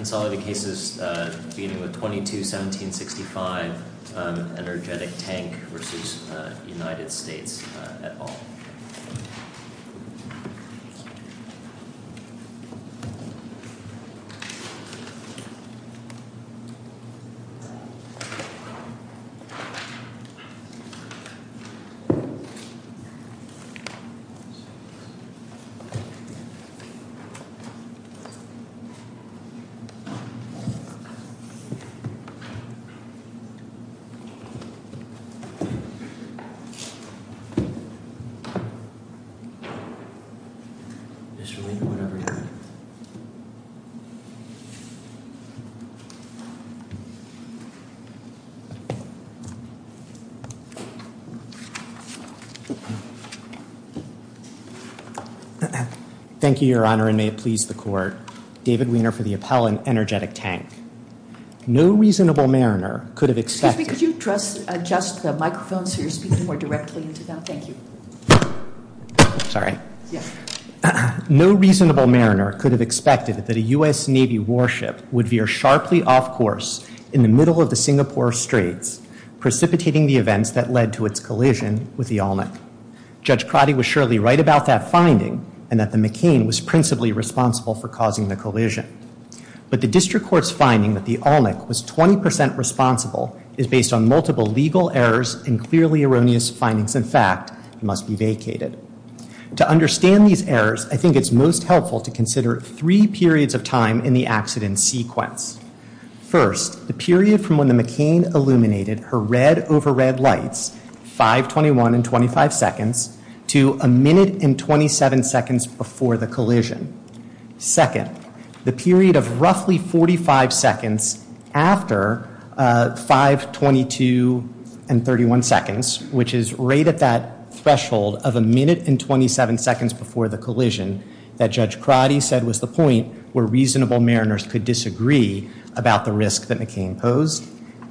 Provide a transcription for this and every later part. Consolidated cases beginning with 22-17-65, Energetic Tank v. United States, et al. Thank you, Your Honor, and may it please the Court, David Wiener for the appellate and Energetic Tank. No reasonable mariner could have expected that a U.S. Navy warship would veer sharply off course in the middle of the Singapore Straits, precipitating the events that led to its collision with the Almut. Judge Crotty was surely right about that finding, and that the McCain was principally responsible for causing the collision. But the District Court's finding that the Almut was 20 percent responsible is based on multiple legal errors and clearly erroneous findings. In fact, it must be vacated. To understand these errors, I think it's most helpful to consider three periods of time in the accident sequence. First, the period from when the McCain illuminated her red over-red lights, 5-21-25 seconds, to a minute and 27 seconds before the collision. Second, the period of roughly 45 seconds after 5-22-31 seconds, which is right at that threshold of a minute and 27 seconds before the collision that Judge Crotty said was the point where reasonable mariners could disagree about the risk that McCain posed.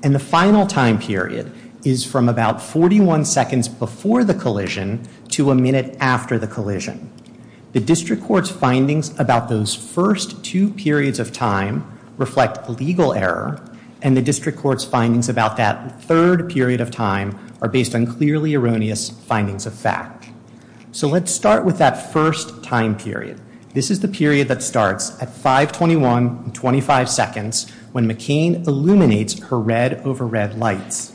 And the final time period is from about 41 seconds before the collision to a minute after the collision. The District Court's findings about those first two periods of time reflect legal error, and the District Court's findings about that third period of time are based on clearly erroneous findings of fact. So let's start with that first time period. This is the period that starts at 5-21-25 seconds when McCain illuminates her red over-red lights.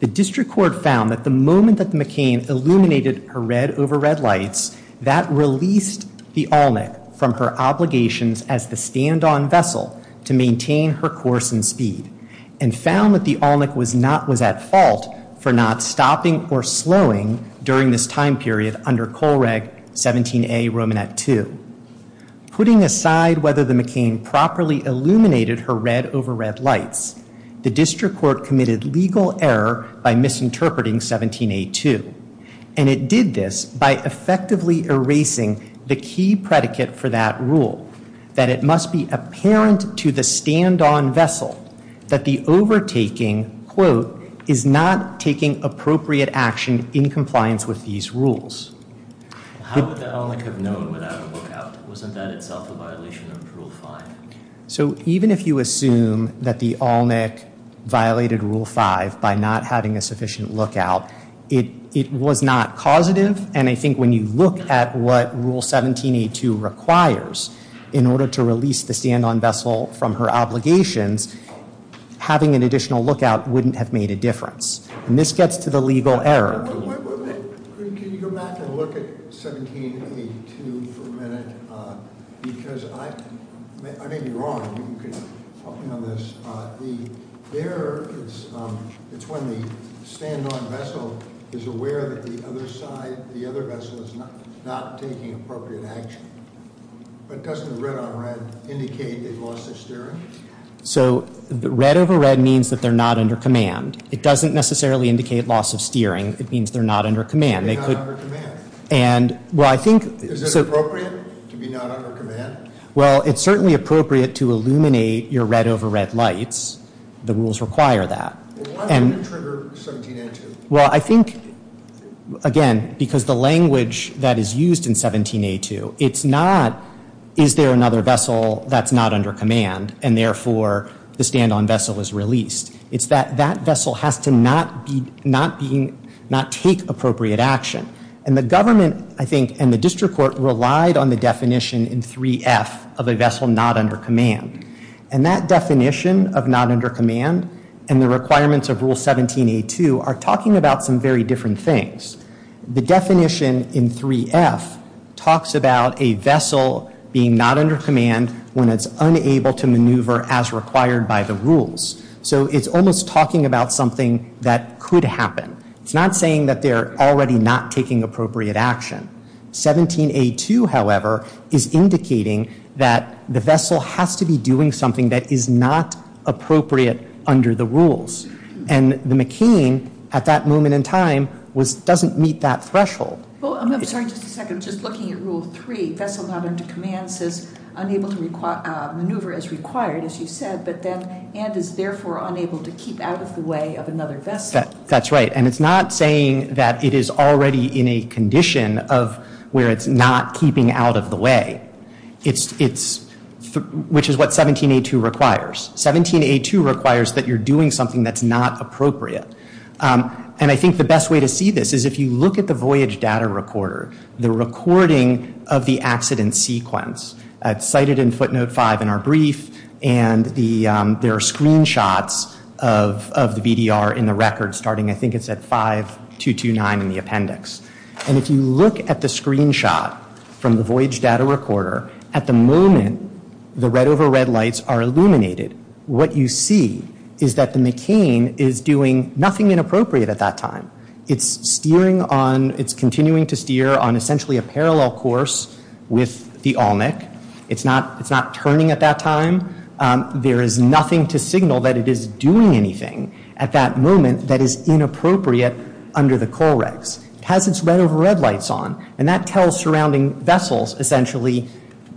The District Court found that the moment that the McCain illuminated her red over-red lights, that released the ALNC from her obligations as the stand-on vessel to maintain her course and speed, and found that the ALNC was at fault for not stopping or slowing during this time period under Colreg 17A, Romanet 2. Putting aside whether the McCain properly illuminated her red over-red lights, the District Court committed legal error by misinterpreting 17A-2. And it did this by effectively erasing the key predicate for that rule, that it must be apparent to the stand-on vessel that the overtaking, quote, is not taking appropriate action in compliance with these rules. How would the ALNC have known without a book out? Wasn't that itself a violation of Rule 5? So even if you assume that the ALNC violated Rule 5 by not having a sufficient lookout, it was not causative, and I think when you look at what Rule 17A-2 requires in order to release the stand-on vessel from her obligations, having an additional lookout wouldn't have made a difference. And this gets to the legal error. Wait, wait, wait. Can you go back and look at 17A-2 for a minute? Because I may be wrong, but you can help me on this. The error, it's when the stand-on vessel is aware that the other side, the other vessel is not taking appropriate action. But doesn't red on red indicate a loss of steering? So red over red means that they're not under command. It doesn't necessarily indicate loss of steering. It means they're not under command. They could. They're not under command. And, well, I think. Is it appropriate to be not under command? Well, it's certainly appropriate to illuminate your red over red lights. The rules require that. Well, why wouldn't it trigger 17A-2? Well, I think, again, because the language that is used in 17A-2, it's not, is there another vessel that's not under command, and therefore, the stand-on vessel is released. It's that that vessel has to not be, not be, not take appropriate action. And the government, I think, and the district court relied on the definition in 3F of a vessel not under command. And that definition of not under command and the requirements of Rule 17A-2 are talking about some very different things. The definition in 3F talks about a vessel being not under command when it's unable to maneuver as required by the rules. So it's almost talking about something that could happen. It's not saying that they're already not taking appropriate action. 17A-2, however, is indicating that the vessel has to be doing something that is not appropriate under the rules. And the McCain, at that moment in time, was, doesn't meet that threshold. Well, I'm sorry, just a second. Just looking at Rule 3, vessel not under command says unable to maneuver as required, as you said. But then, and is therefore unable to keep out of the way of another vessel. That's right. And it's not saying that it is already in a condition of where it's not keeping out of the way. It's, it's, which is what 17A-2 requires. 17A-2 requires that you're doing something that's not appropriate. And I think the best way to see this is if you look at the voyage data recorder, the recording of the accident sequence. It's cited in footnote 5 in our brief. And the, there are screenshots of, of the BDR in the record starting, I think it's at 5229 in the appendix. And if you look at the screenshot from the voyage data recorder, at the moment the red over red lights are illuminated, what you see is that the McCain is doing nothing inappropriate at that time. It's steering on, it's continuing to steer on essentially a parallel course with the Alnick. It's not, it's not turning at that time. There is nothing to signal that it is doing anything at that moment that is inappropriate under the coal regs. It has its red over red lights on. And that tells surrounding vessels essentially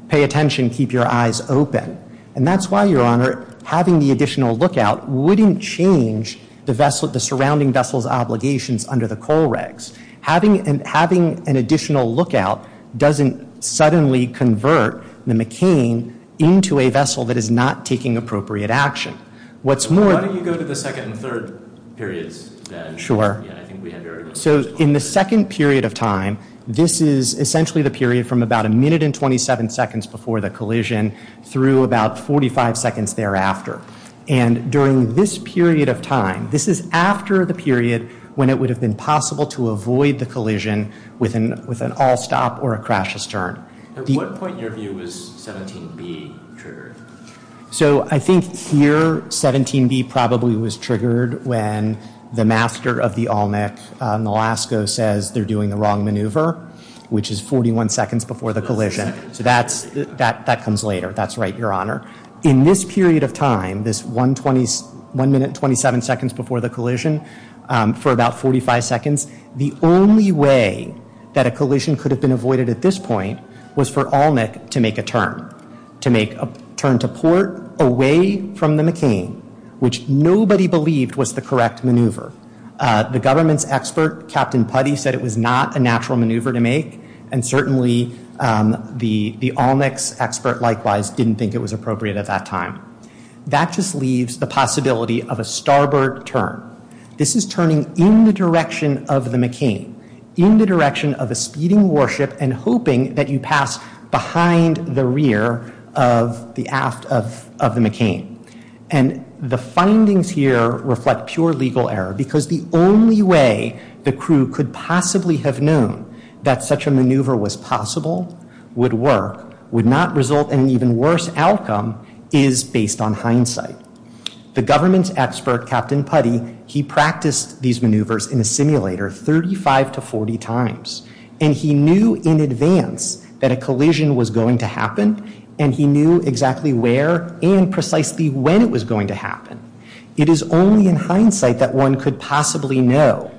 pay attention, keep your eyes open. And that's why, Your Honor, having the additional lookout wouldn't change the vessel, the surrounding vessel's obligations under the coal regs. Having an, having an additional lookout doesn't suddenly convert the McCain into a vessel that is not taking appropriate action. What's more. Why don't you go to the second and third periods then? Sure. Yeah, I think we had very good. So in the second period of time, this is essentially the period from about a minute and 27 seconds before the collision through about 45 seconds thereafter. And during this period of time, this is after the period when it would have been possible to avoid the collision with an all stop or a crashless turn. At what point in your view was 17B triggered? So I think here, 17B probably was triggered when the master of the Alnick, Nalasko says they're doing the wrong maneuver, which is 41 seconds before the collision. So that's, that comes later. That's right, Your Honor. In this period of time, this one minute and 27 seconds before the collision, for about 45 seconds, the only way that a collision could have been avoided at this point was for Alnick to make a turn, to make a turn to port away from the McCain, which nobody believed was the correct maneuver. The government's expert, Captain Putty, said it was not a natural maneuver to make. And certainly, the Alnick's expert likewise didn't think it was appropriate at that time. That just leaves the possibility of a starboard turn. This is turning in the direction of the McCain, in the direction of a speeding warship, and hoping that you pass behind the rear of the aft of the McCain. And the findings here reflect pure legal error. Because the only way the crew could possibly have known that such a maneuver was possible, would work, would not result in an even worse outcome, is based on hindsight. The government's expert, Captain Putty, he practiced these maneuvers in a simulator 35 to 40 times, and he knew in advance that a collision was going to happen, and he knew exactly where and precisely when it was going to happen. It is only in hindsight that one could possibly know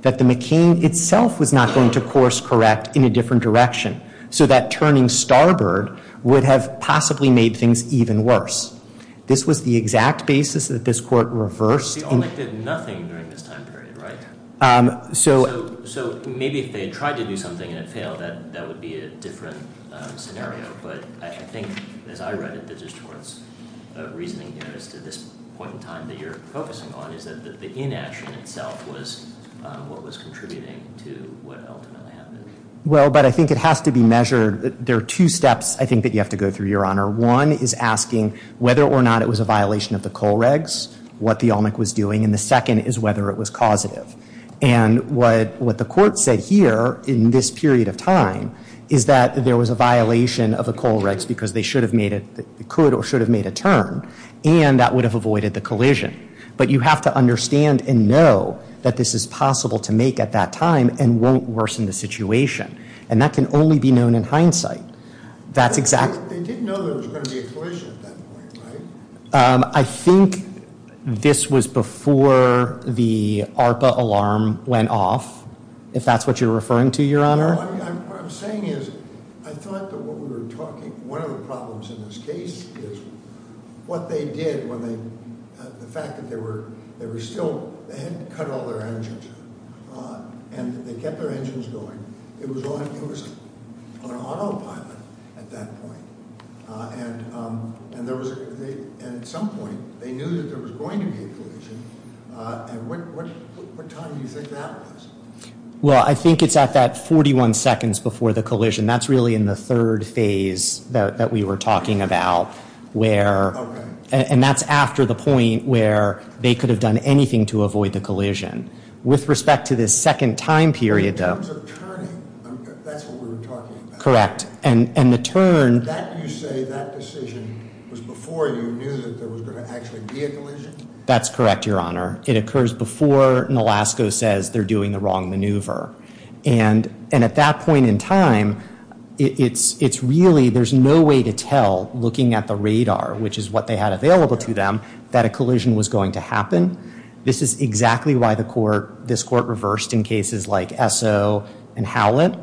that the McCain itself was not going to course correct in a different direction, so that turning starboard would have possibly made things even worse. This was the exact basis that this court reversed. The Alnick did nothing during this time period, right? So. So maybe if they had tried to do something and it failed, that would be a different scenario. But I think, as I read it, the distorts reasoning, you know, as to this point in time that you're focusing on is that the inaction itself was what was contributing to what ultimately happened. Well, but I think it has to be measured. There are two steps, I think, that you have to go through, Your Honor. One is asking whether or not it was a violation of the Cole regs, what the Alnick was doing, and the second is whether it was causative. And what the court said here in this period of time is that there was a violation of the Cole regs because they should have made a, could or should have made a turn, and that would have avoided the collision. But you have to understand and know that this is possible to make at that time and won't worsen the situation, and that can only be known in hindsight. That's exactly. They didn't know there was going to be a collision at that point, right? I think this was before the ARPA alarm went off, if that's what you're referring to, Your Honor. What I'm saying is I thought that what we were talking, one of the problems in this case is what they did when they, the fact that they were, they were still, they hadn't cut all their engines, and they kept their engines going. It was on autopilot at that point. And there was, and at some point, they knew that there was going to be a collision. And what time do you think that was? Well, I think it's at that 41 seconds before the collision. That's really in the third phase that we were talking about where, and that's after the point where they could have done anything to avoid the collision. With respect to this second time period, though. In terms of turning, that's what we were talking about. Correct. And the turn. That, you say that decision was before you knew that there was going to actually be a collision? That's correct, Your Honor. It occurs before NALASCO says they're doing the wrong maneuver. And at that point in time, it's really, there's no way to tell, looking at the radar, which is what they had available to them, that a collision was going to happen. This is exactly why the court, this court reversed in cases like Esso and Howlett.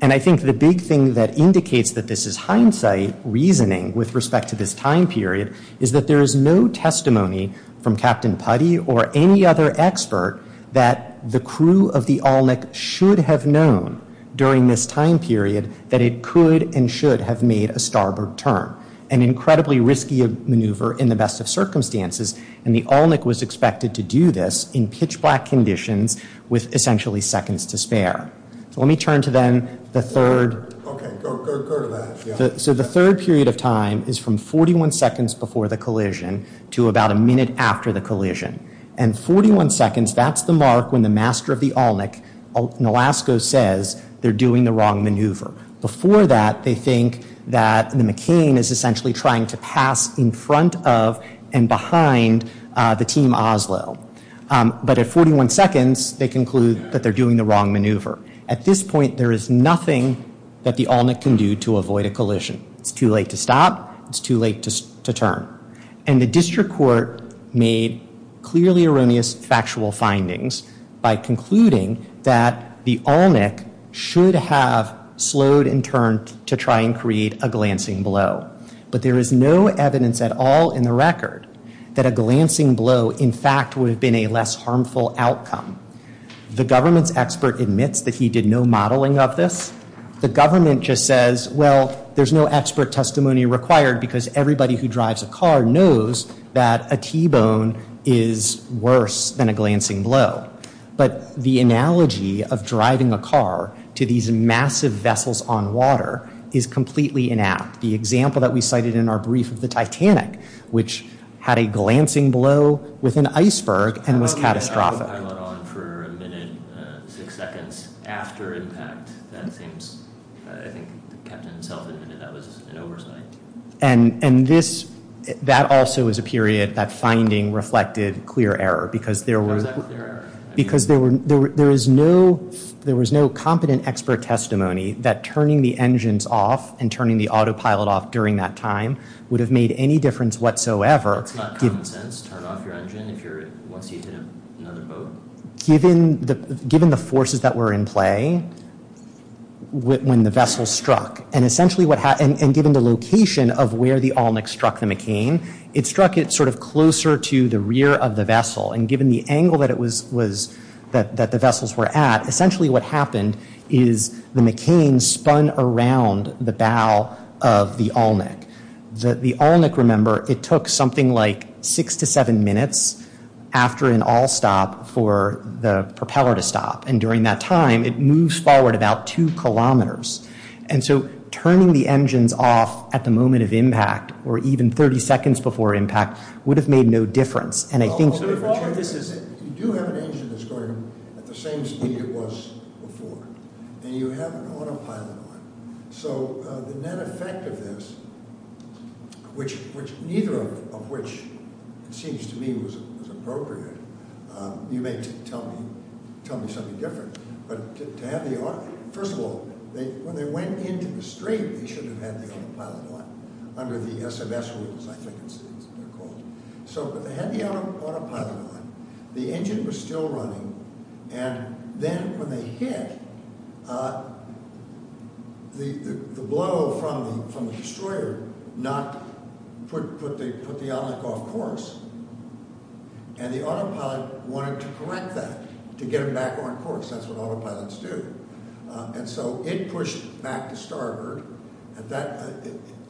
And I think the big thing that indicates that this is hindsight reasoning with respect to this time period is that there is no testimony from Captain Putty or any other expert that the crew of the ALNIC should have known during this time period that it could and should have made a starboard turn. An incredibly risky maneuver in the best of circumstances. And the ALNIC was expected to do this in pitch black conditions with essentially seconds to spare. So let me turn to then the third. Okay, go to that. So the third period of time is from 41 seconds before the collision to about a minute after the collision. And 41 seconds, that's the mark when the master of the ALNIC, NALASCO says they're doing the wrong maneuver. Before that, they think that the McCain is essentially trying to pass in front of and behind the Team Oslo. But at 41 seconds, they conclude that they're doing the wrong maneuver. At this point, there is nothing that the ALNIC can do to avoid a collision. It's too late to stop. It's too late to turn. And the district court made clearly erroneous factual findings by concluding that the ALNIC should have slowed and turned to try and create a glancing blow. But there is no evidence at all in the record that a glancing blow in fact would have been a less harmful outcome. The government's expert admits that he did no modeling of this. The government just says, well, there's no expert testimony required because everybody who drives a car knows that a T-bone is worse than a glancing blow. But the analogy of driving a car to these massive vessels on water is completely inapp. The example that we cited in our brief of the Titanic, which had a glancing blow with an iceberg and was catastrophic. And this, that also is a period that finding reflected clear error because there were, because there is no competent expert testimony that turning the engines off and turning the autopilot off during that time would have made any difference whatsoever. It's not common sense to turn off your engine if you're, once you hit another boat. Given the forces that were in play when the vessel struck, and essentially what happened, and given the location of where the ALNIC struck the McCain, it struck it sort of closer to the rear of the vessel, and given the angle that it was, that the vessels were at, essentially what happened is the McCain spun around the bow of the ALNIC. The ALNIC, remember, it took something like six to seven minutes after an all stop for the propeller to stop, and during that time, it moves forward about two kilometers. And so turning the engines off at the moment of impact or even 30 seconds before impact would have made no difference. And I think. You do have an engine that's going at the same speed it was before, and you have an autopilot on. So the net effect of this, which neither of which it seems to me was appropriate, you may tell me something different, but to have the autopilot, first of all, when they went into the strait, they should have had the autopilot on under the SMS rules, I think it's what they're called. So, but they had the autopilot on. The engine was still running, and then when they hit, the blow from the destroyer knocked, put the ALNIC off course, and the autopilot wanted to correct that to get it back on course. That's what autopilots do. And so it pushed back to starboard, and that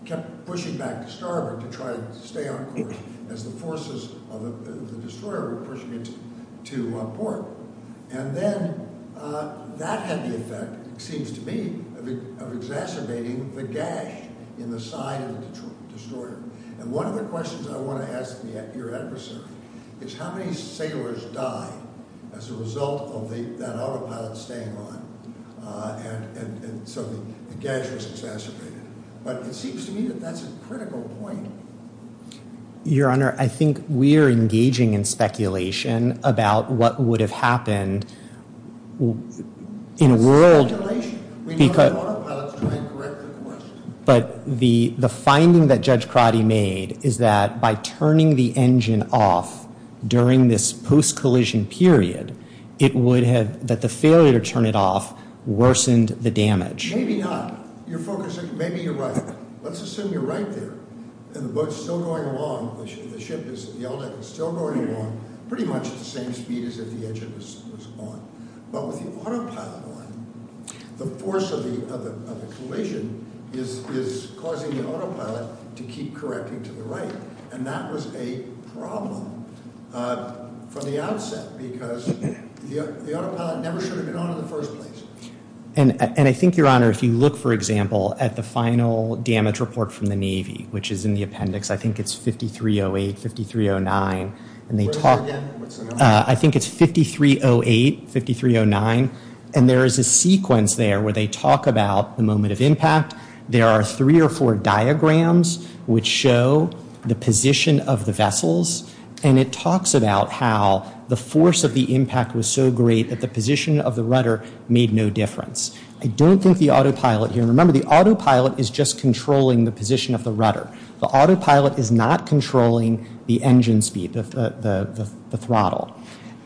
kept pushing back to starboard to try to stay on course as the forces of the destroyer were pushing it to port. And then that had the effect, it seems to me, of exacerbating the gash in the side of the destroyer. And one of the questions I want to ask your adversary is how many sailors died as a result of that autopilot staying on, and so the gash was exacerbated. But it seems to me that that's a critical point. Your Honor, I think we're engaging in speculation about what would have happened in a world. But the finding that Judge Crotty made is that by turning the engine off during this post-collision period, it would have, that the failure to turn it off worsened the damage. Maybe not. You're focusing, maybe you're right. Let's assume you're right there, and the boat's still going along, the ship is still going along pretty much at the same speed as if the engine was on. But with the autopilot on, the force of the collision is causing the autopilot to keep correcting to the right, and that was a problem from the outset because the autopilot never should have been on in the first place. And I think, Your Honor, if you look, for example, at the final damage report from the Navy, which is in the appendix, I think it's 5308, 5309, and they talk, I think it's 5308, 5309, and there is a sequence there where they talk about the moment of impact. There are three or four diagrams which show the position of the vessels, and it talks about how the force of the impact was so great that the position of the rudder made no difference. I don't think the autopilot here, and remember the autopilot is just controlling the position of the rudder. The autopilot is not controlling the engine speed, the throttle.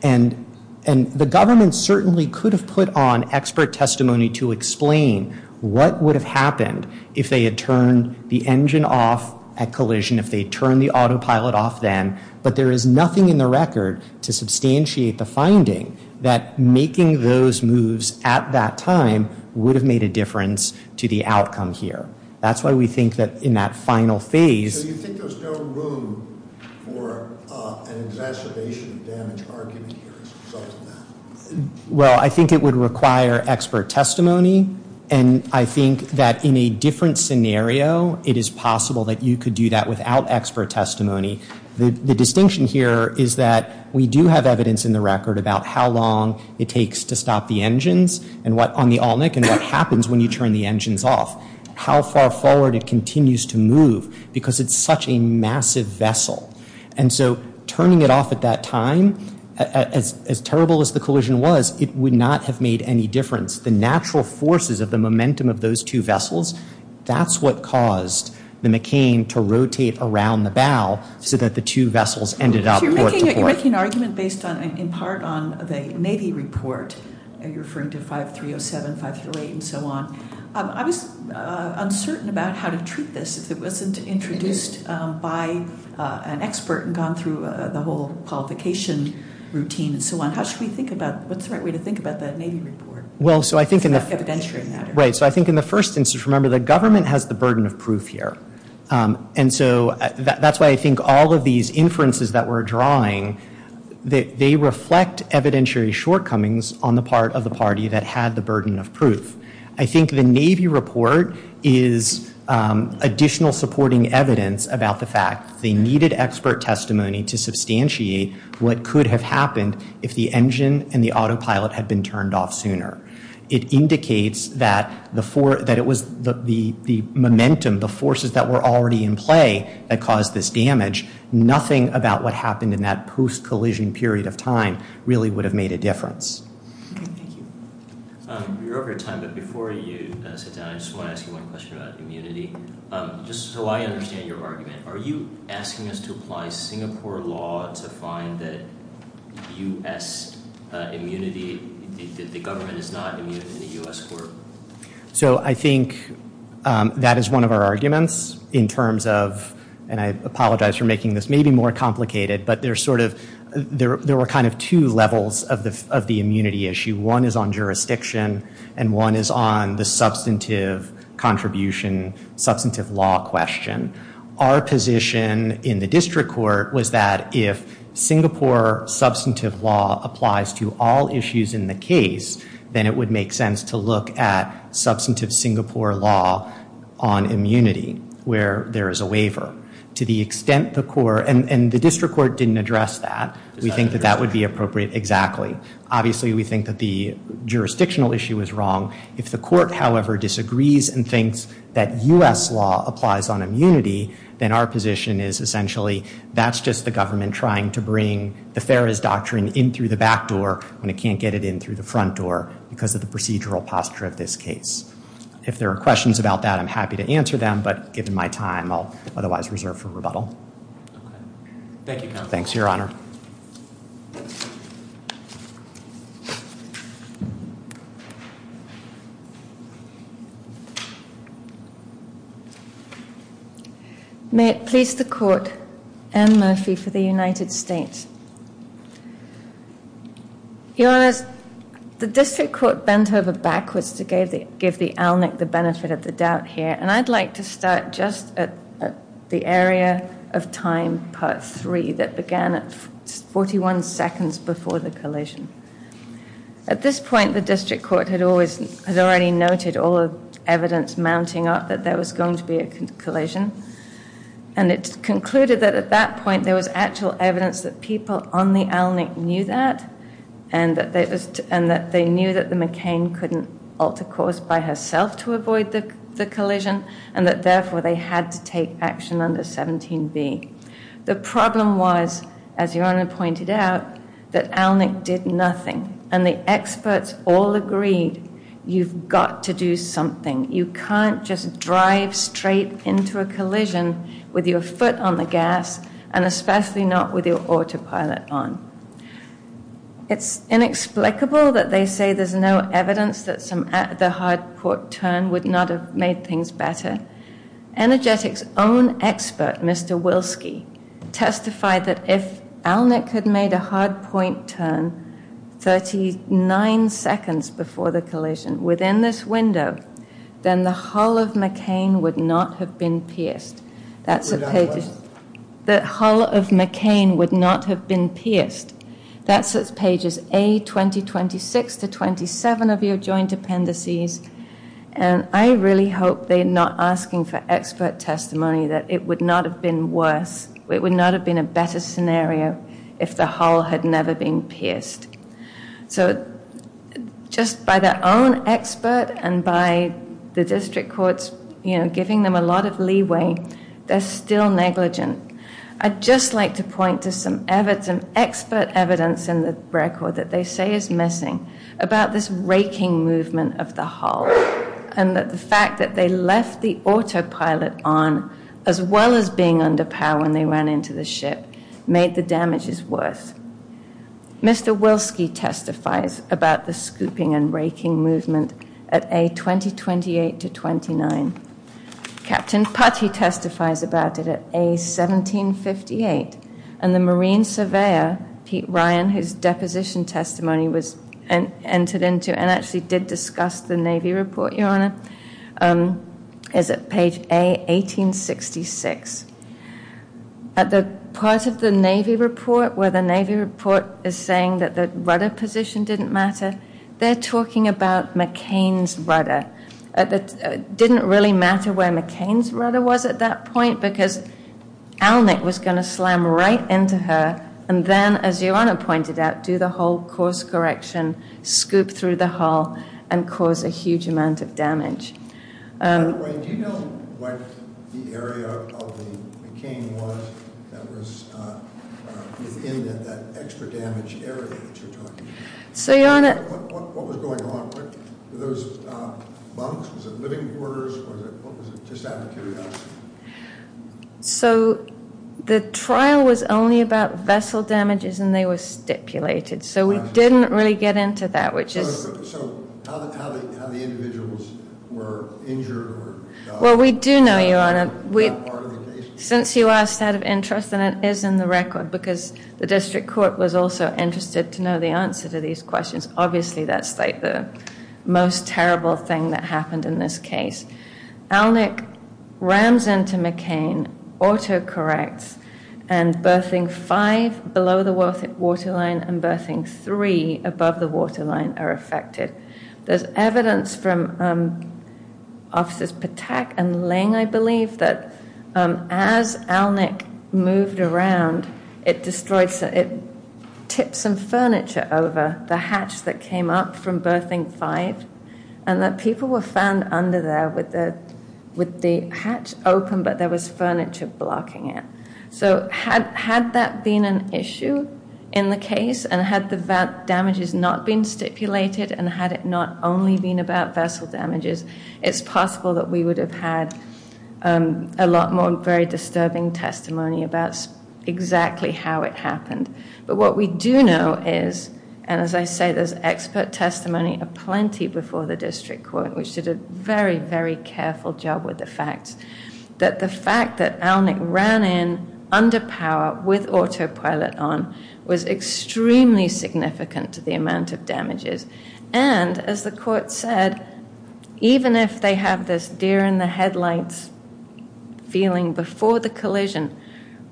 And the government certainly could have put on expert testimony to explain what would have happened if they had turned the engine off at collision, if they had turned the autopilot off then, but there is nothing in the record to substantiate the finding that making those moves at that time would have made a difference to the outcome here. That's why we think that in that final phase. So you think there's no room for an exacerbation of damage argument here as a result of that? Well, I think it would require expert testimony, and I think that in a different scenario, it is possible that you could do that without expert testimony. The distinction here is that we do have evidence in the record about how long it takes to stop the engines on the Alnick, and what happens when you turn the engines off, how far forward it continues to move, because it's such a massive vessel. And so turning it off at that time, as terrible as the collision was, it would not have made any difference. The natural forces of the momentum of those two vessels, that's what caused the McCain to rotate around the bow so that the two vessels ended up port to port. You're making an argument based in part on the Navy report. You're referring to 5307, 5308, and so on. I was uncertain about how to treat this if it wasn't introduced by an expert and gone through the whole qualification routine and so on. How should we think about, what's the right way to think about that Navy report? Well, so I think in the first instance, remember the government has the burden of proof here. And so that's why I think all of these inferences that we're drawing, they reflect evidentiary shortcomings on the part of the party that had the burden of proof. I think the Navy report is additional supporting evidence about the fact they needed expert testimony to substantiate what could have happened if the engine and the autopilot had been turned off sooner. It indicates that it was the momentum, the forces that were already in play that caused this damage. Nothing about what happened in that post-collision period of time really would have made a difference. Thank you. You're over time, but before you sit down, I just want to ask you one question about immunity. Just so I understand your argument, are you asking us to apply Singapore law to find the US immunity, that the government is not immune in the US court? So I think that is one of our arguments in terms of, and I apologize for making this maybe more complicated, but there were kind of two levels of the immunity issue. One is on jurisdiction, and one is on the substantive contribution, substantive law question. Our position in the district court was that if Singapore substantive law applies to all issues in the case, then it would make sense to look at substantive Singapore law on immunity, where there is a waiver. To the extent the court, and the district court didn't address that. We think that that would be appropriate, exactly. Obviously, we think that the jurisdictional issue is wrong. If the court, however, disagrees and thinks that US law applies on immunity, then our position is essentially, that's just the government trying to bring the FARA's doctrine in through the back door, when it can't get it in through the front door, because of the procedural posture of this case. If there are questions about that, I'm happy to answer them, but given my time, I'll otherwise reserve for rebuttal. Thank you, counsel. Thanks, your honor. May it please the court, Anne Murphy for the United States. Your honors, the district court bent over backwards to give the ALNIC the benefit of the doubt here, and I'd like to start just at the area of time part three, that began at 41 seconds before the collision. At this point, the district court had already noted all the evidence mounting up that there was going to be a collision, and it concluded that at that point, there was actual evidence that people on the ALNIC knew that, and that they knew that the McCain couldn't alter course by herself to avoid the collision, and that therefore, they had to take action under 17B. The problem was, as your honor pointed out, that ALNIC did nothing, and the experts all agreed, you've got to do something, you can't just drive straight into a collision with your foot on the gas, and especially not with your autopilot on. It's inexplicable that they say there's no evidence that the hard court turn would not have made things better. Energetic's own expert, Mr. Wilski, testified that if ALNIC had made a hard point turn 39 seconds before the collision, within this window, then the hull of McCain would not have been pierced. That's at pages- The hull of McCain would not have been pierced. That's at pages A2026 to 27 of your joint appendices, and I really hope they're not asking for expert testimony that it would not have been worse, it would not have been a better scenario if the hull had never been pierced. So, just by their own expert and by the district courts, you know, giving them a lot of leeway, they're still negligent. I'd just like to point to some expert evidence in the record that they say is missing, about this raking movement of the hull, and that the fact that they left the autopilot on, as well as being under power when they ran into the ship, made the damages worse. Mr. Wilski testifies about the scooping and raking movement at A2028 to 29. Captain Putty testifies about it at A1758, and the Marine surveyor, Pete Ryan, whose deposition testimony was entered into, and actually did discuss the Navy report, Your Honor, is at page A1866. At the part of the Navy report where the Navy report is saying that the rudder position didn't matter, they're talking about McCain's rudder. It didn't really matter where McCain's rudder was at that point because Alnick was going to slam right into her, and then, as Your Honor pointed out, do the whole course correction, scoop through the hull, and cause a huge amount of damage. By the way, do you know what the area of the McCain was that was within that extra damaged area that you're talking about? So, Your Honor- What was going on? Were those bumps? Was it living quarters? Or was it just that materiality? So, the trial was only about vessel damages, and they were stipulated. So, we didn't really get into that, which is- So, how the individuals were injured or- Well, we do know, Your Honor, since you asked out of interest, and it is in the record, because the district court was also interested to know the answer to these questions. Obviously, that's the most terrible thing that happened in this case. Alnick rams into McCain, autocorrects, and berthing five below the waterline and berthing three above the waterline are affected. There's evidence from officers Patak and Ling, I believe, that as Alnick moved around, it destroyed- it tipped some furniture over the hatch that came up from berthing five, and that people were found under there with the hatch open, but there was furniture blocking it. So, had that been an issue in the case, and had the damages not been stipulated, and had it not only been about vessel damages, it's possible that we would have had a lot more very disturbing testimony about exactly how it happened. But what we do know is, and as I say, there's expert testimony aplenty before the district court, which did a very, very careful job with the facts, that the fact that Alnick ran in under power with autopilot on was extremely significant to the amount of damages. And, as the court said, even if they have this deer-in-the-headlights feeling before the collision,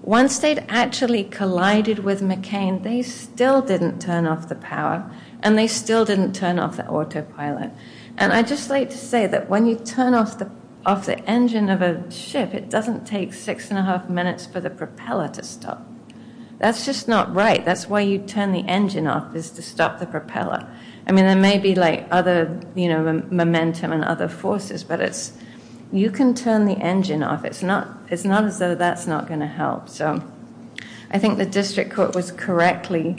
once they'd actually collided with McCain, they still didn't turn off the power, and they still didn't turn off the autopilot. And I'd just like to say that when you turn off the engine of a ship, it doesn't take six and a half minutes for the propeller to stop. That's just not right. That's why you turn the engine off, is to stop the propeller. I mean, there may be, like, other, you know, momentum and other forces, but you can turn the engine off. It's not as though that's not going to help. So, I think the district court was correctly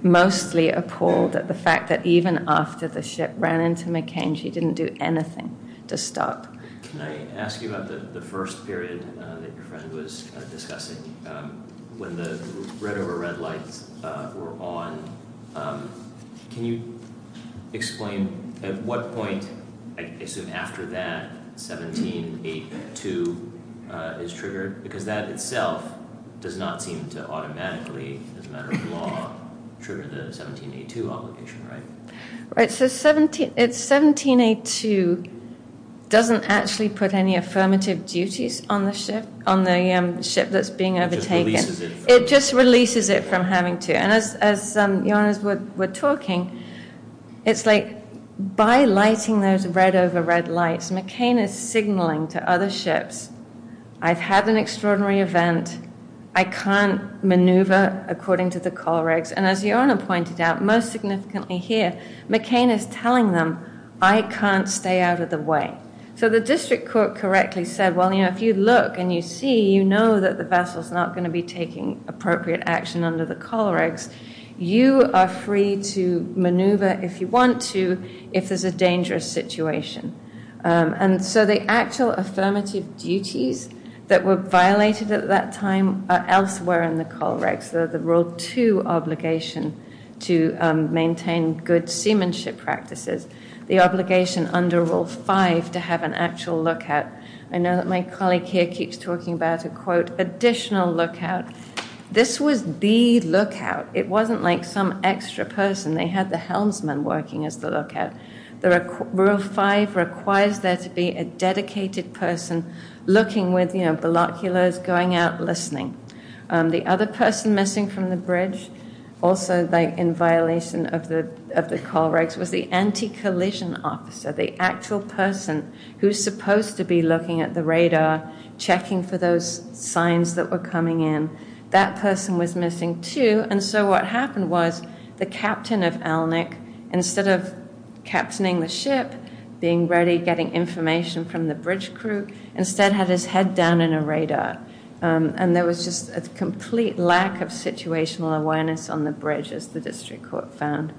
mostly appalled at the fact that even after the ship ran into McCain, she didn't do anything to stop. Can I ask you about the first period that your friend was discussing? When the red-over-red lights were on, can you explain at what point, I assume after that, 1782 is triggered? Because that itself does not seem to automatically, as a matter of law, trigger the 1782 obligation, right? Right. So, 1782 doesn't actually put any affirmative duties on the ship, on the ship that's being overtaken. It just releases it from having to. And as your Honours were talking, it's like, by lighting those red-over-red lights, McCain is signaling to other ships, I've had an extraordinary event, I can't maneuver according to the call regs. And as your Honour pointed out, most significantly here, McCain is telling them, I can't stay out of the way. So, the district court correctly said, well, you know, if you look and you see, you know that the vessel's not going to be taking appropriate action under the call regs. You are free to maneuver if you want to, if there's a dangerous situation. And so, the actual affirmative duties that were violated at that time are elsewhere in the call regs. So, the Rule 2 obligation to maintain good seamanship practices. The obligation under Rule 5 to have an actual lookout. I know that my colleague here keeps talking about a, quote, additional lookout. This was the lookout. It wasn't like some extra person. They had the helmsman working as the lookout. Rule 5 requires there to be a dedicated person looking with, you know, binoculars, going out, listening. The other person missing from the bridge, also in violation of the call regs, was the anti-collision officer. The actual person who's supposed to be looking at the radar, checking for those signs that were coming in. That person was missing, too. And so, what happened was the captain of ALNIC, instead of captaining the ship, being ready, getting information from the bridge crew, instead had his head down in a radar. And there was just a complete lack of situational awareness on the bridge, as the district court found.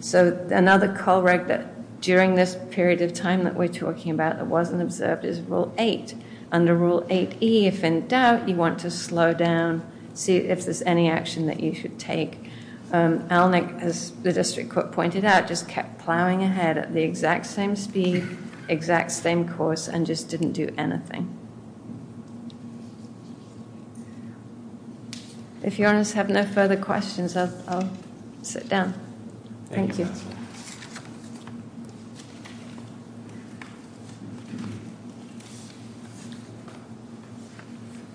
So, another call reg that, during this period of time that we're talking about, that wasn't observed is Rule 8. Under Rule 8E, if in doubt, you want to slow down, see if there's any action that you should take. ALNIC, as the district court pointed out, just kept plowing ahead at the exact same speed, exact same course, and just didn't do anything. If your honors have no further questions, I'll sit down. Thank you.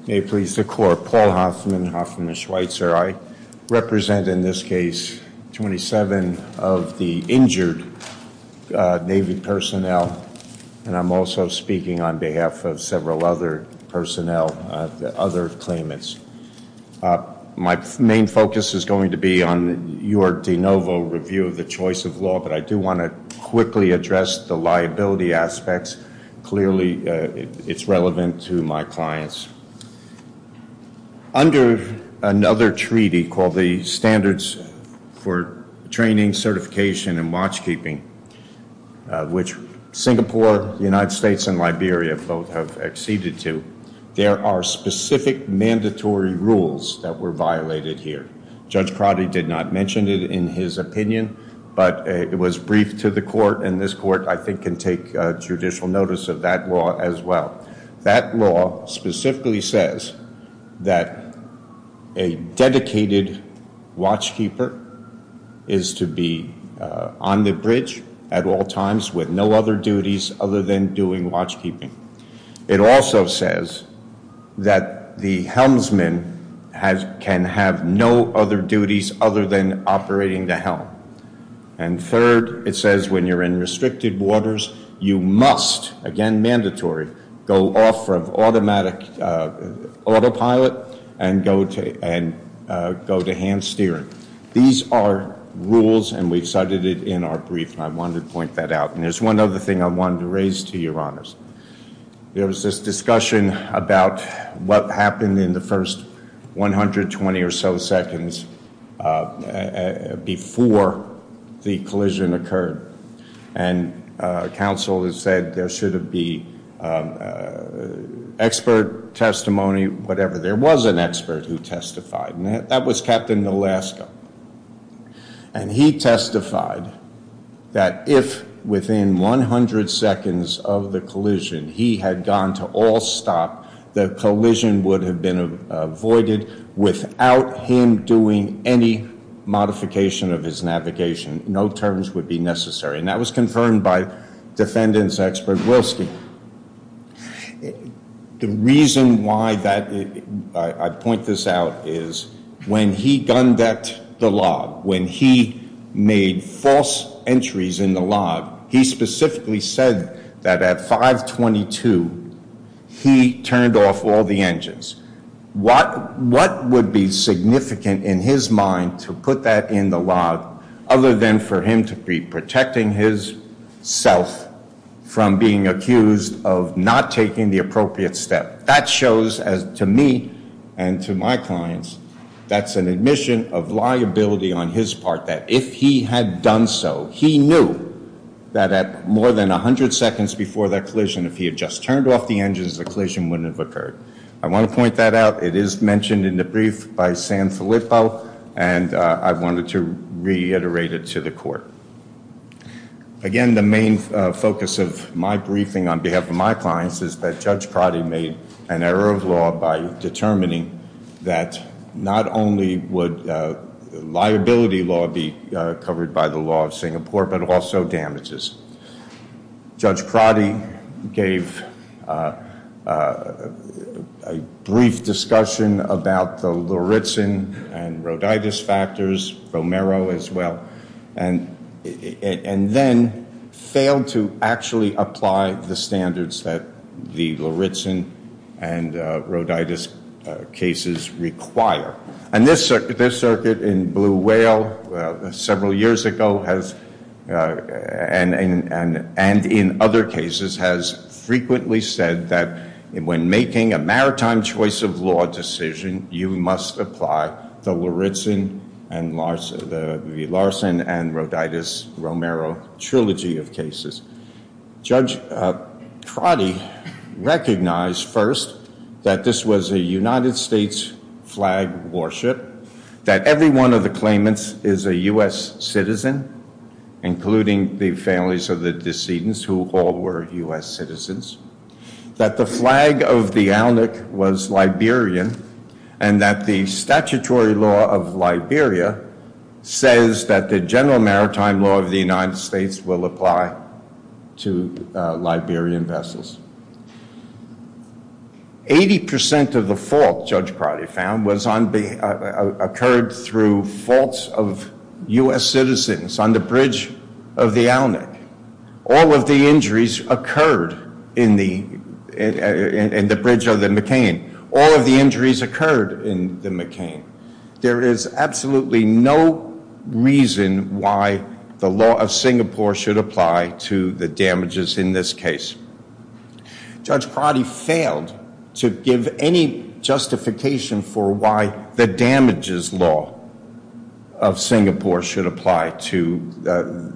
May it please the court. Paul Hoffman, Hoffman & Schweitzer. I represent, in this case, 27 of the injured Navy personnel. And I'm also speaking on behalf of several other personnel, other claimants. My main focus is going to be on your de novo review of the choice of law, but I do want to quickly address the liability aspects. Clearly, it's relevant to my clients. Under another treaty called the Standards for Training, Certification, and Watchkeeping, which Singapore, the United States, and Liberia both have acceded to, there are specific mandatory rules that were violated here. Judge Crotty did not mention it in his opinion, but it was briefed to the court, and this court, I think, can take judicial notice of that law as well. That law specifically says that a dedicated watchkeeper is to be on the bridge at all times with no other duties other than doing watchkeeping. It also says that the helmsman can have no other duties other than operating the helm. And third, it says when you're in restricted waters, you must, again mandatory, go off of automatic autopilot and go to hand steering. These are rules, and we've cited it in our brief, and I wanted to point that out. And there's one other thing I wanted to raise to your honors. There was this discussion about what happened in the first 120 or so seconds before the collision occurred. And counsel has said there should have been expert testimony, whatever. There was an expert who testified, and that was Captain Nolasco. And he testified that if within 100 seconds of the collision he had gone to all stop, the collision would have been avoided without him doing any modification of his navigation. No turns would be necessary. And that was confirmed by defendant's expert, Wilski. The reason why that, I point this out, is when he gunned at the log, when he made false entries in the log, he specifically said that at 522, he turned off all the engines. What would be significant in his mind to put that in the log, other than for him to be protecting his self from being accused of not taking the appropriate step? That shows, to me and to my clients, that's an admission of liability on his part. That if he had done so, he knew that at more than 100 seconds before that collision, if he had just turned off the engines, the collision wouldn't have occurred. I want to point that out. It is mentioned in the brief by Sanfilippo. And I wanted to reiterate it to the court. Again, the main focus of my briefing on behalf of my clients is that Judge Crotty made an error of law by determining that not only would liability law be covered by the law of Singapore, but also damages. Judge Crotty gave a brief discussion about the Lauritzen and Rhoditis factors, Romero as well, and then failed to actually apply the standards that the Lauritzen and Rhoditis cases require. And this circuit in Blue Whale several years ago and in other cases has frequently said that when making a maritime choice of law decision, you must apply the Lauritzen and Rhoditis Romero trilogy of cases. Judge Crotty recognized first that this was a United States flag warship, that every one of the claimants is a U.S. citizen, including the families of the decedents who all were U.S. citizens, that the flag of the Alnick was Liberian, and that the statutory law of Liberia says that the general maritime law of the United States will apply to Liberian vessels. Eighty percent of the fault, Judge Crotty found, occurred through faults of U.S. citizens on the bridge of the Alnick. All of the injuries occurred in the bridge of the McCain. All of the injuries occurred in the McCain. There is absolutely no reason why the law of Singapore should apply to the damages in this case. Judge Crotty failed to give any justification for why the damages law of Singapore should apply to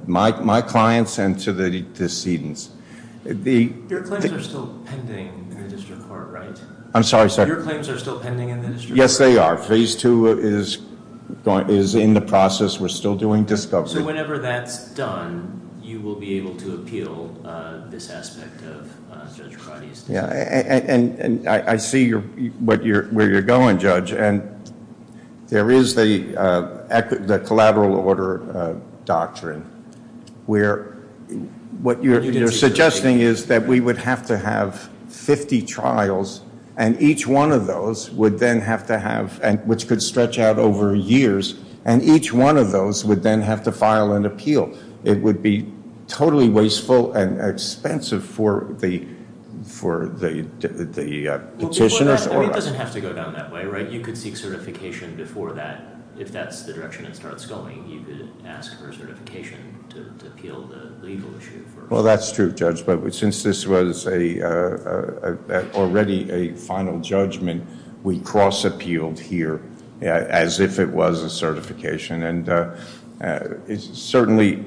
my clients and to the decedents. Your claims are still pending in the district court, right? I'm sorry, sir? Your claims are still pending in the district court? Yes, they are. Phase two is in the process. We're still doing discovery. So whenever that's done, you will be able to appeal this aspect of Judge Crotty's? Yeah, and I see where you're going, Judge. And there is the collateral order doctrine where what you're suggesting is that we would have to have 50 trials, and each one of those would then have to have, which could stretch out over years, and each one of those would then have to file an appeal. It would be totally wasteful and expensive for the petitioners. It doesn't have to go down that way, right? You could seek certification before that. If that's the direction it starts going, you could ask for certification to appeal the legal issue. Well, that's true, Judge, but since this was already a final judgment, we cross-appealed here as if it was a certification. And certainly,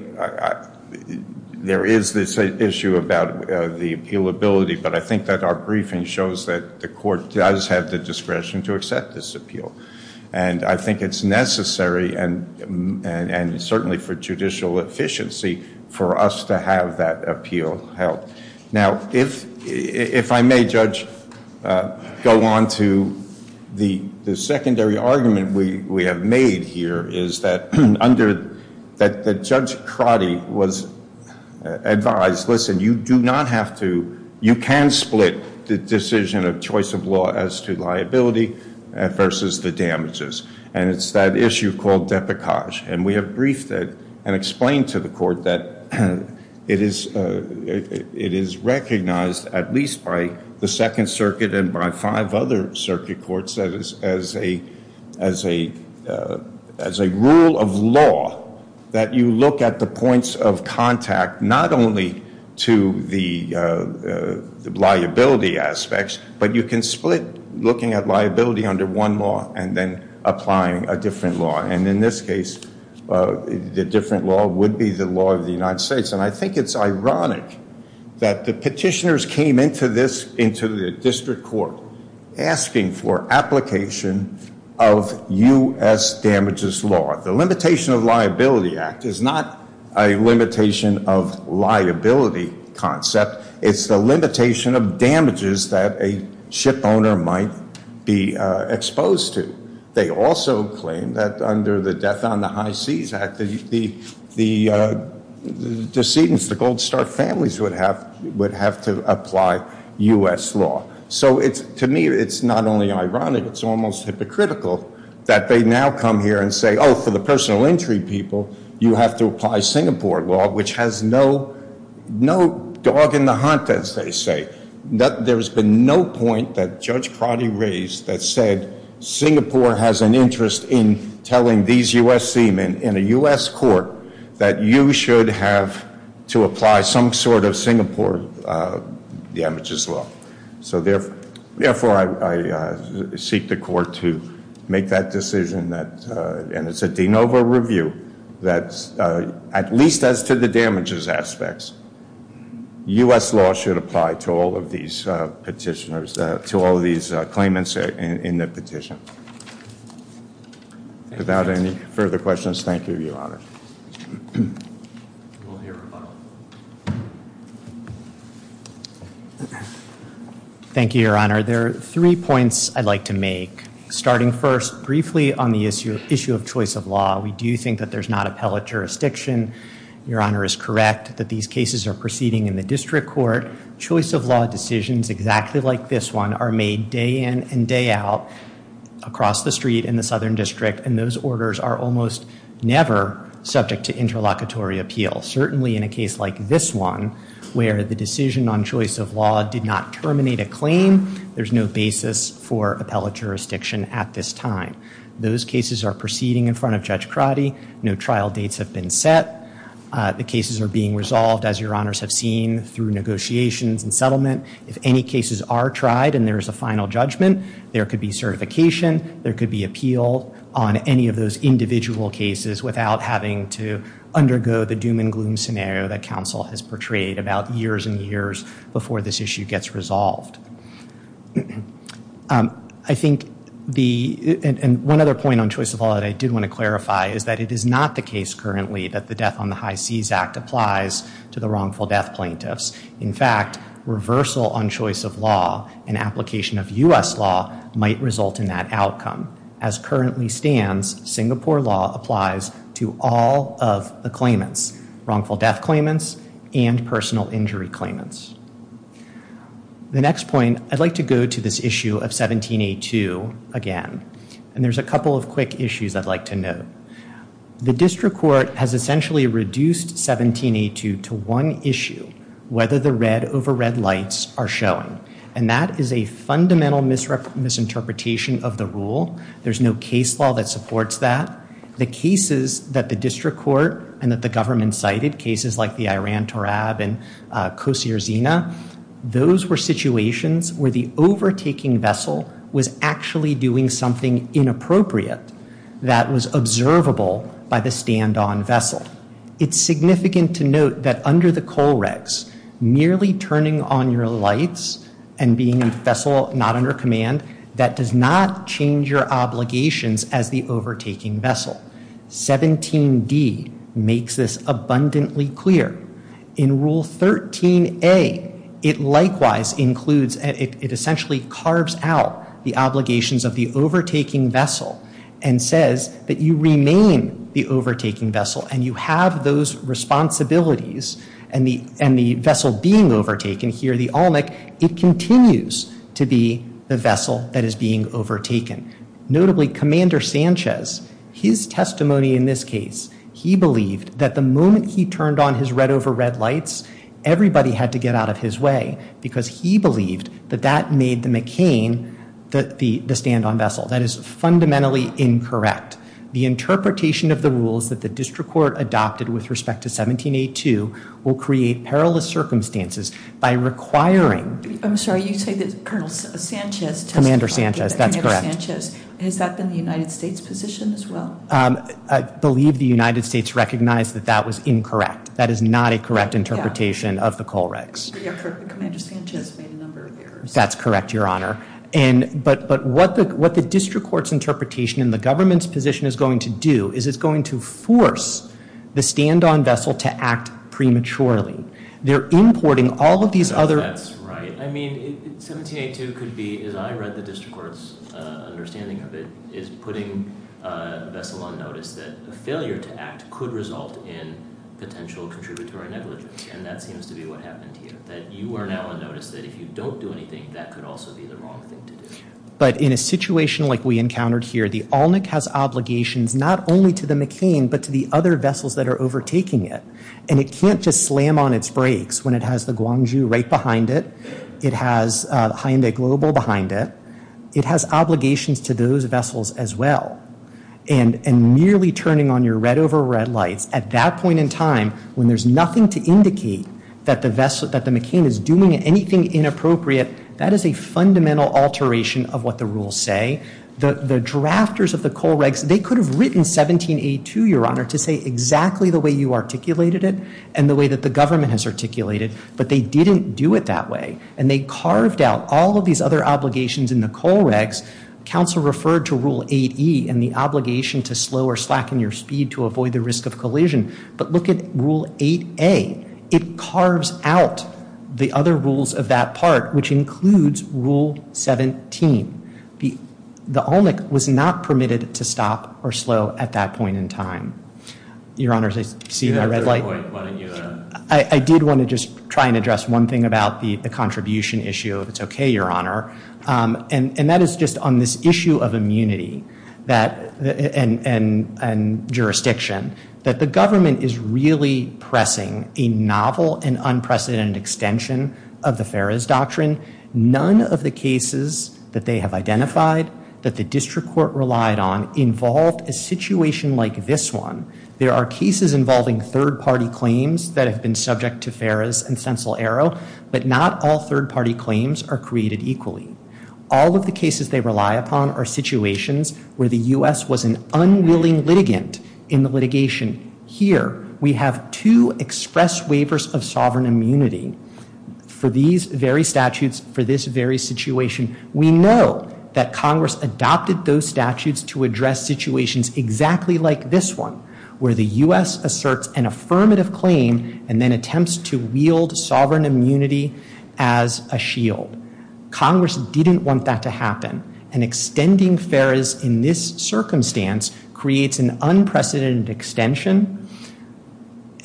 there is this issue about the appealability, but I think that our briefing shows that the court does have the discretion to accept this appeal. And I think it's necessary, and certainly for judicial efficiency, for us to have that appeal held. Now, if I may, Judge, go on to the secondary argument we have made here, is that under, that Judge Crotty was advised, listen, you do not have to, you can split the decision of choice of law as to liability versus the damages. And it's that issue called deprecage. And we have briefed it and explained to the court that it is recognized, at least by the Second Circuit and by five other circuit courts, that as a rule of law that you look at the points of contact, not only to the liability aspects, but you can split looking at liability under one law and then applying a different law. And in this case, the different law would be the law of the United States. And I think it's ironic that the petitioners came into this, into the district court, asking for application of U.S. damages law. The Limitation of Liability Act is not a limitation of liability concept. It's the limitation of damages that a ship owner might be exposed to. They also claim that under the Death on the High Seas Act, the decedents, the Gold Star families would have to apply U.S. law. So to me, it's not only ironic, it's almost hypocritical that they now come here and say, oh, for the personal injury people, you have to apply Singapore law, which has no dog in the hunt, as they say. There's been no point that Judge Pratty raised that said Singapore has an interest in telling these U.S. seamen in a U.S. court that you should have to apply some sort of Singapore damages law. So therefore, I seek the court to make that decision that, and it's a de novo review, that at least as to the damages aspects, U.S. law should apply to all of these petitioners, to all of these claimants in the petition. Without any further questions, thank you, Your Honor. We'll hear a rebuttal. Thank you, Your Honor. There are three points I'd like to make. Starting first, briefly on the issue of choice of law, we do think that there's not appellate jurisdiction. Your Honor is correct that these cases are proceeding in the district court. Choice of law decisions exactly like this one are made day in and day out across the street in the Southern District, and those orders are almost never subject to interlocutory appeal. Certainly in a case like this one, where the decision on choice of law did not terminate a claim, there's no basis for appellate jurisdiction at this time. Those cases are proceeding in front of Judge Pratty. No trial dates have been set. The cases are being resolved, as Your Honors have seen, through negotiations and settlement. If any cases are tried and there is a final judgment, there could be certification, there could be appeal on any of those individual cases without having to undergo the doom and gloom scenario that counsel has portrayed about years and years before this issue gets resolved. I think the, and one other point on choice of law that I did want to clarify is that it is not the case currently that the Death on the High Seas Act applies to the wrongful death plaintiffs. In fact, reversal on choice of law and application of U.S. law might result in that outcome. As currently stands, Singapore law applies to all of the claimants, wrongful death claimants, and personal injury claimants. The next point, I'd like to go to this issue of 1782 again, and there's a couple of quick issues I'd like to note. The district court has essentially reduced 1782 to one issue, whether the red, over-red lights are showing. And that is a fundamental misinterpretation of the rule. There's no case law that supports that. The cases that the district court and that the government cited, cases like the Iran-Torab and Qosirzina, those were situations where the overtaking vessel was actually doing something inappropriate that was observable by the stand-on vessel. It's significant to note that under the coal regs, merely turning on your lights and being a vessel not under command, that does not change your obligations as the overtaking vessel. 17D makes this abundantly clear. In Rule 13A, it likewise includes, it essentially carves out the obligations of the overtaking vessel and says that you remain the overtaking vessel and you have those responsibilities and the vessel being overtaken here, the ALNIC, it continues to be the vessel that is being overtaken. Notably, Commander Sanchez, his testimony in this case, he believed that the moment he turned on his red-over-red lights, everybody had to get out of his way because he believed that that made the McCain the stand-on vessel. That is fundamentally incorrect. The interpretation of the rules that the district court adopted with respect to 17A2 will create perilous circumstances by requiring- I'm sorry, you say that Colonel Sanchez testified. Commander Sanchez, that's correct. Has that been the United States' position as well? I believe the United States recognized that that was incorrect. That is not a correct interpretation of the COLREGS. Yeah, but Commander Sanchez made a number of errors. That's correct, Your Honor. But what the district court's interpretation and the government's position is going to do is it's going to force the stand-on vessel to act prematurely. They're importing all of these other- No, that's right. I mean, 17A2 could be, as I read the district court's understanding of it, is putting a vessel on notice that a failure to act could result in potential contributory negligence. And that seems to be what happened here, that you are now on notice that if you don't do anything, that could also be the wrong thing to do. But in a situation like we encountered here, the ALNC has obligations not only to the McCain but to the other vessels that are overtaking it. And it can't just slam on its brakes when it has the Guangzhou right behind it. It has Hyundai Global behind it. It has obligations to those vessels as well. And merely turning on your red over red lights at that point in time, when there's nothing to indicate that the McCain is doing anything inappropriate, that is a fundamental alteration of what the rules say. The drafters of the coal regs, they could have written 17A2, Your Honor, to say exactly the way you articulated it and the way that the government has articulated, but they didn't do it that way. And they carved out all of these other obligations in the coal regs. Council referred to Rule 8E and the obligation to slow or slacken your speed to avoid the risk of collision. But look at Rule 8A. It carves out the other rules of that part, which includes Rule 17. The ALNC was not permitted to stop or slow at that point in time. Your Honor, do you see my red light? I did want to just try and address one thing about the contribution issue, if it's okay, Your Honor. And that is just on this issue of immunity and jurisdiction, that the government is really pressing a novel and unprecedented extension of the FARAS doctrine. None of the cases that they have identified, that the district court relied on, involved a situation like this one. There are cases involving third-party claims that have been subject to FARAS and CENCIL-ARROW, but not all third-party claims are created equally. All of the cases they rely upon are situations where the U.S. was an unwilling litigant in the litigation. Here, we have two express waivers of sovereign immunity for these very statutes, for this very situation. We know that Congress adopted those statutes to address situations exactly like this one, where the U.S. asserts an affirmative claim and then attempts to wield sovereign immunity as a shield. Congress didn't want that to happen. And extending FARAS in this circumstance creates an unprecedented extension,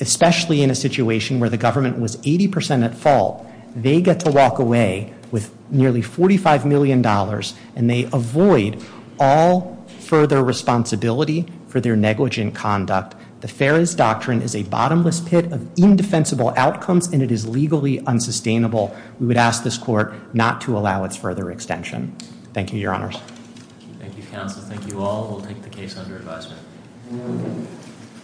especially in a situation where the government was 80% at fault. They get to walk away with nearly $45 million and they avoid all further responsibility for their negligent conduct. The FARAS doctrine is a bottomless pit of indefensible outcomes and it is legally unsustainable. We would ask this court not to allow its further extension. Thank you, your honors. Thank you, counsel. Thank you all. We'll take the case under advisement.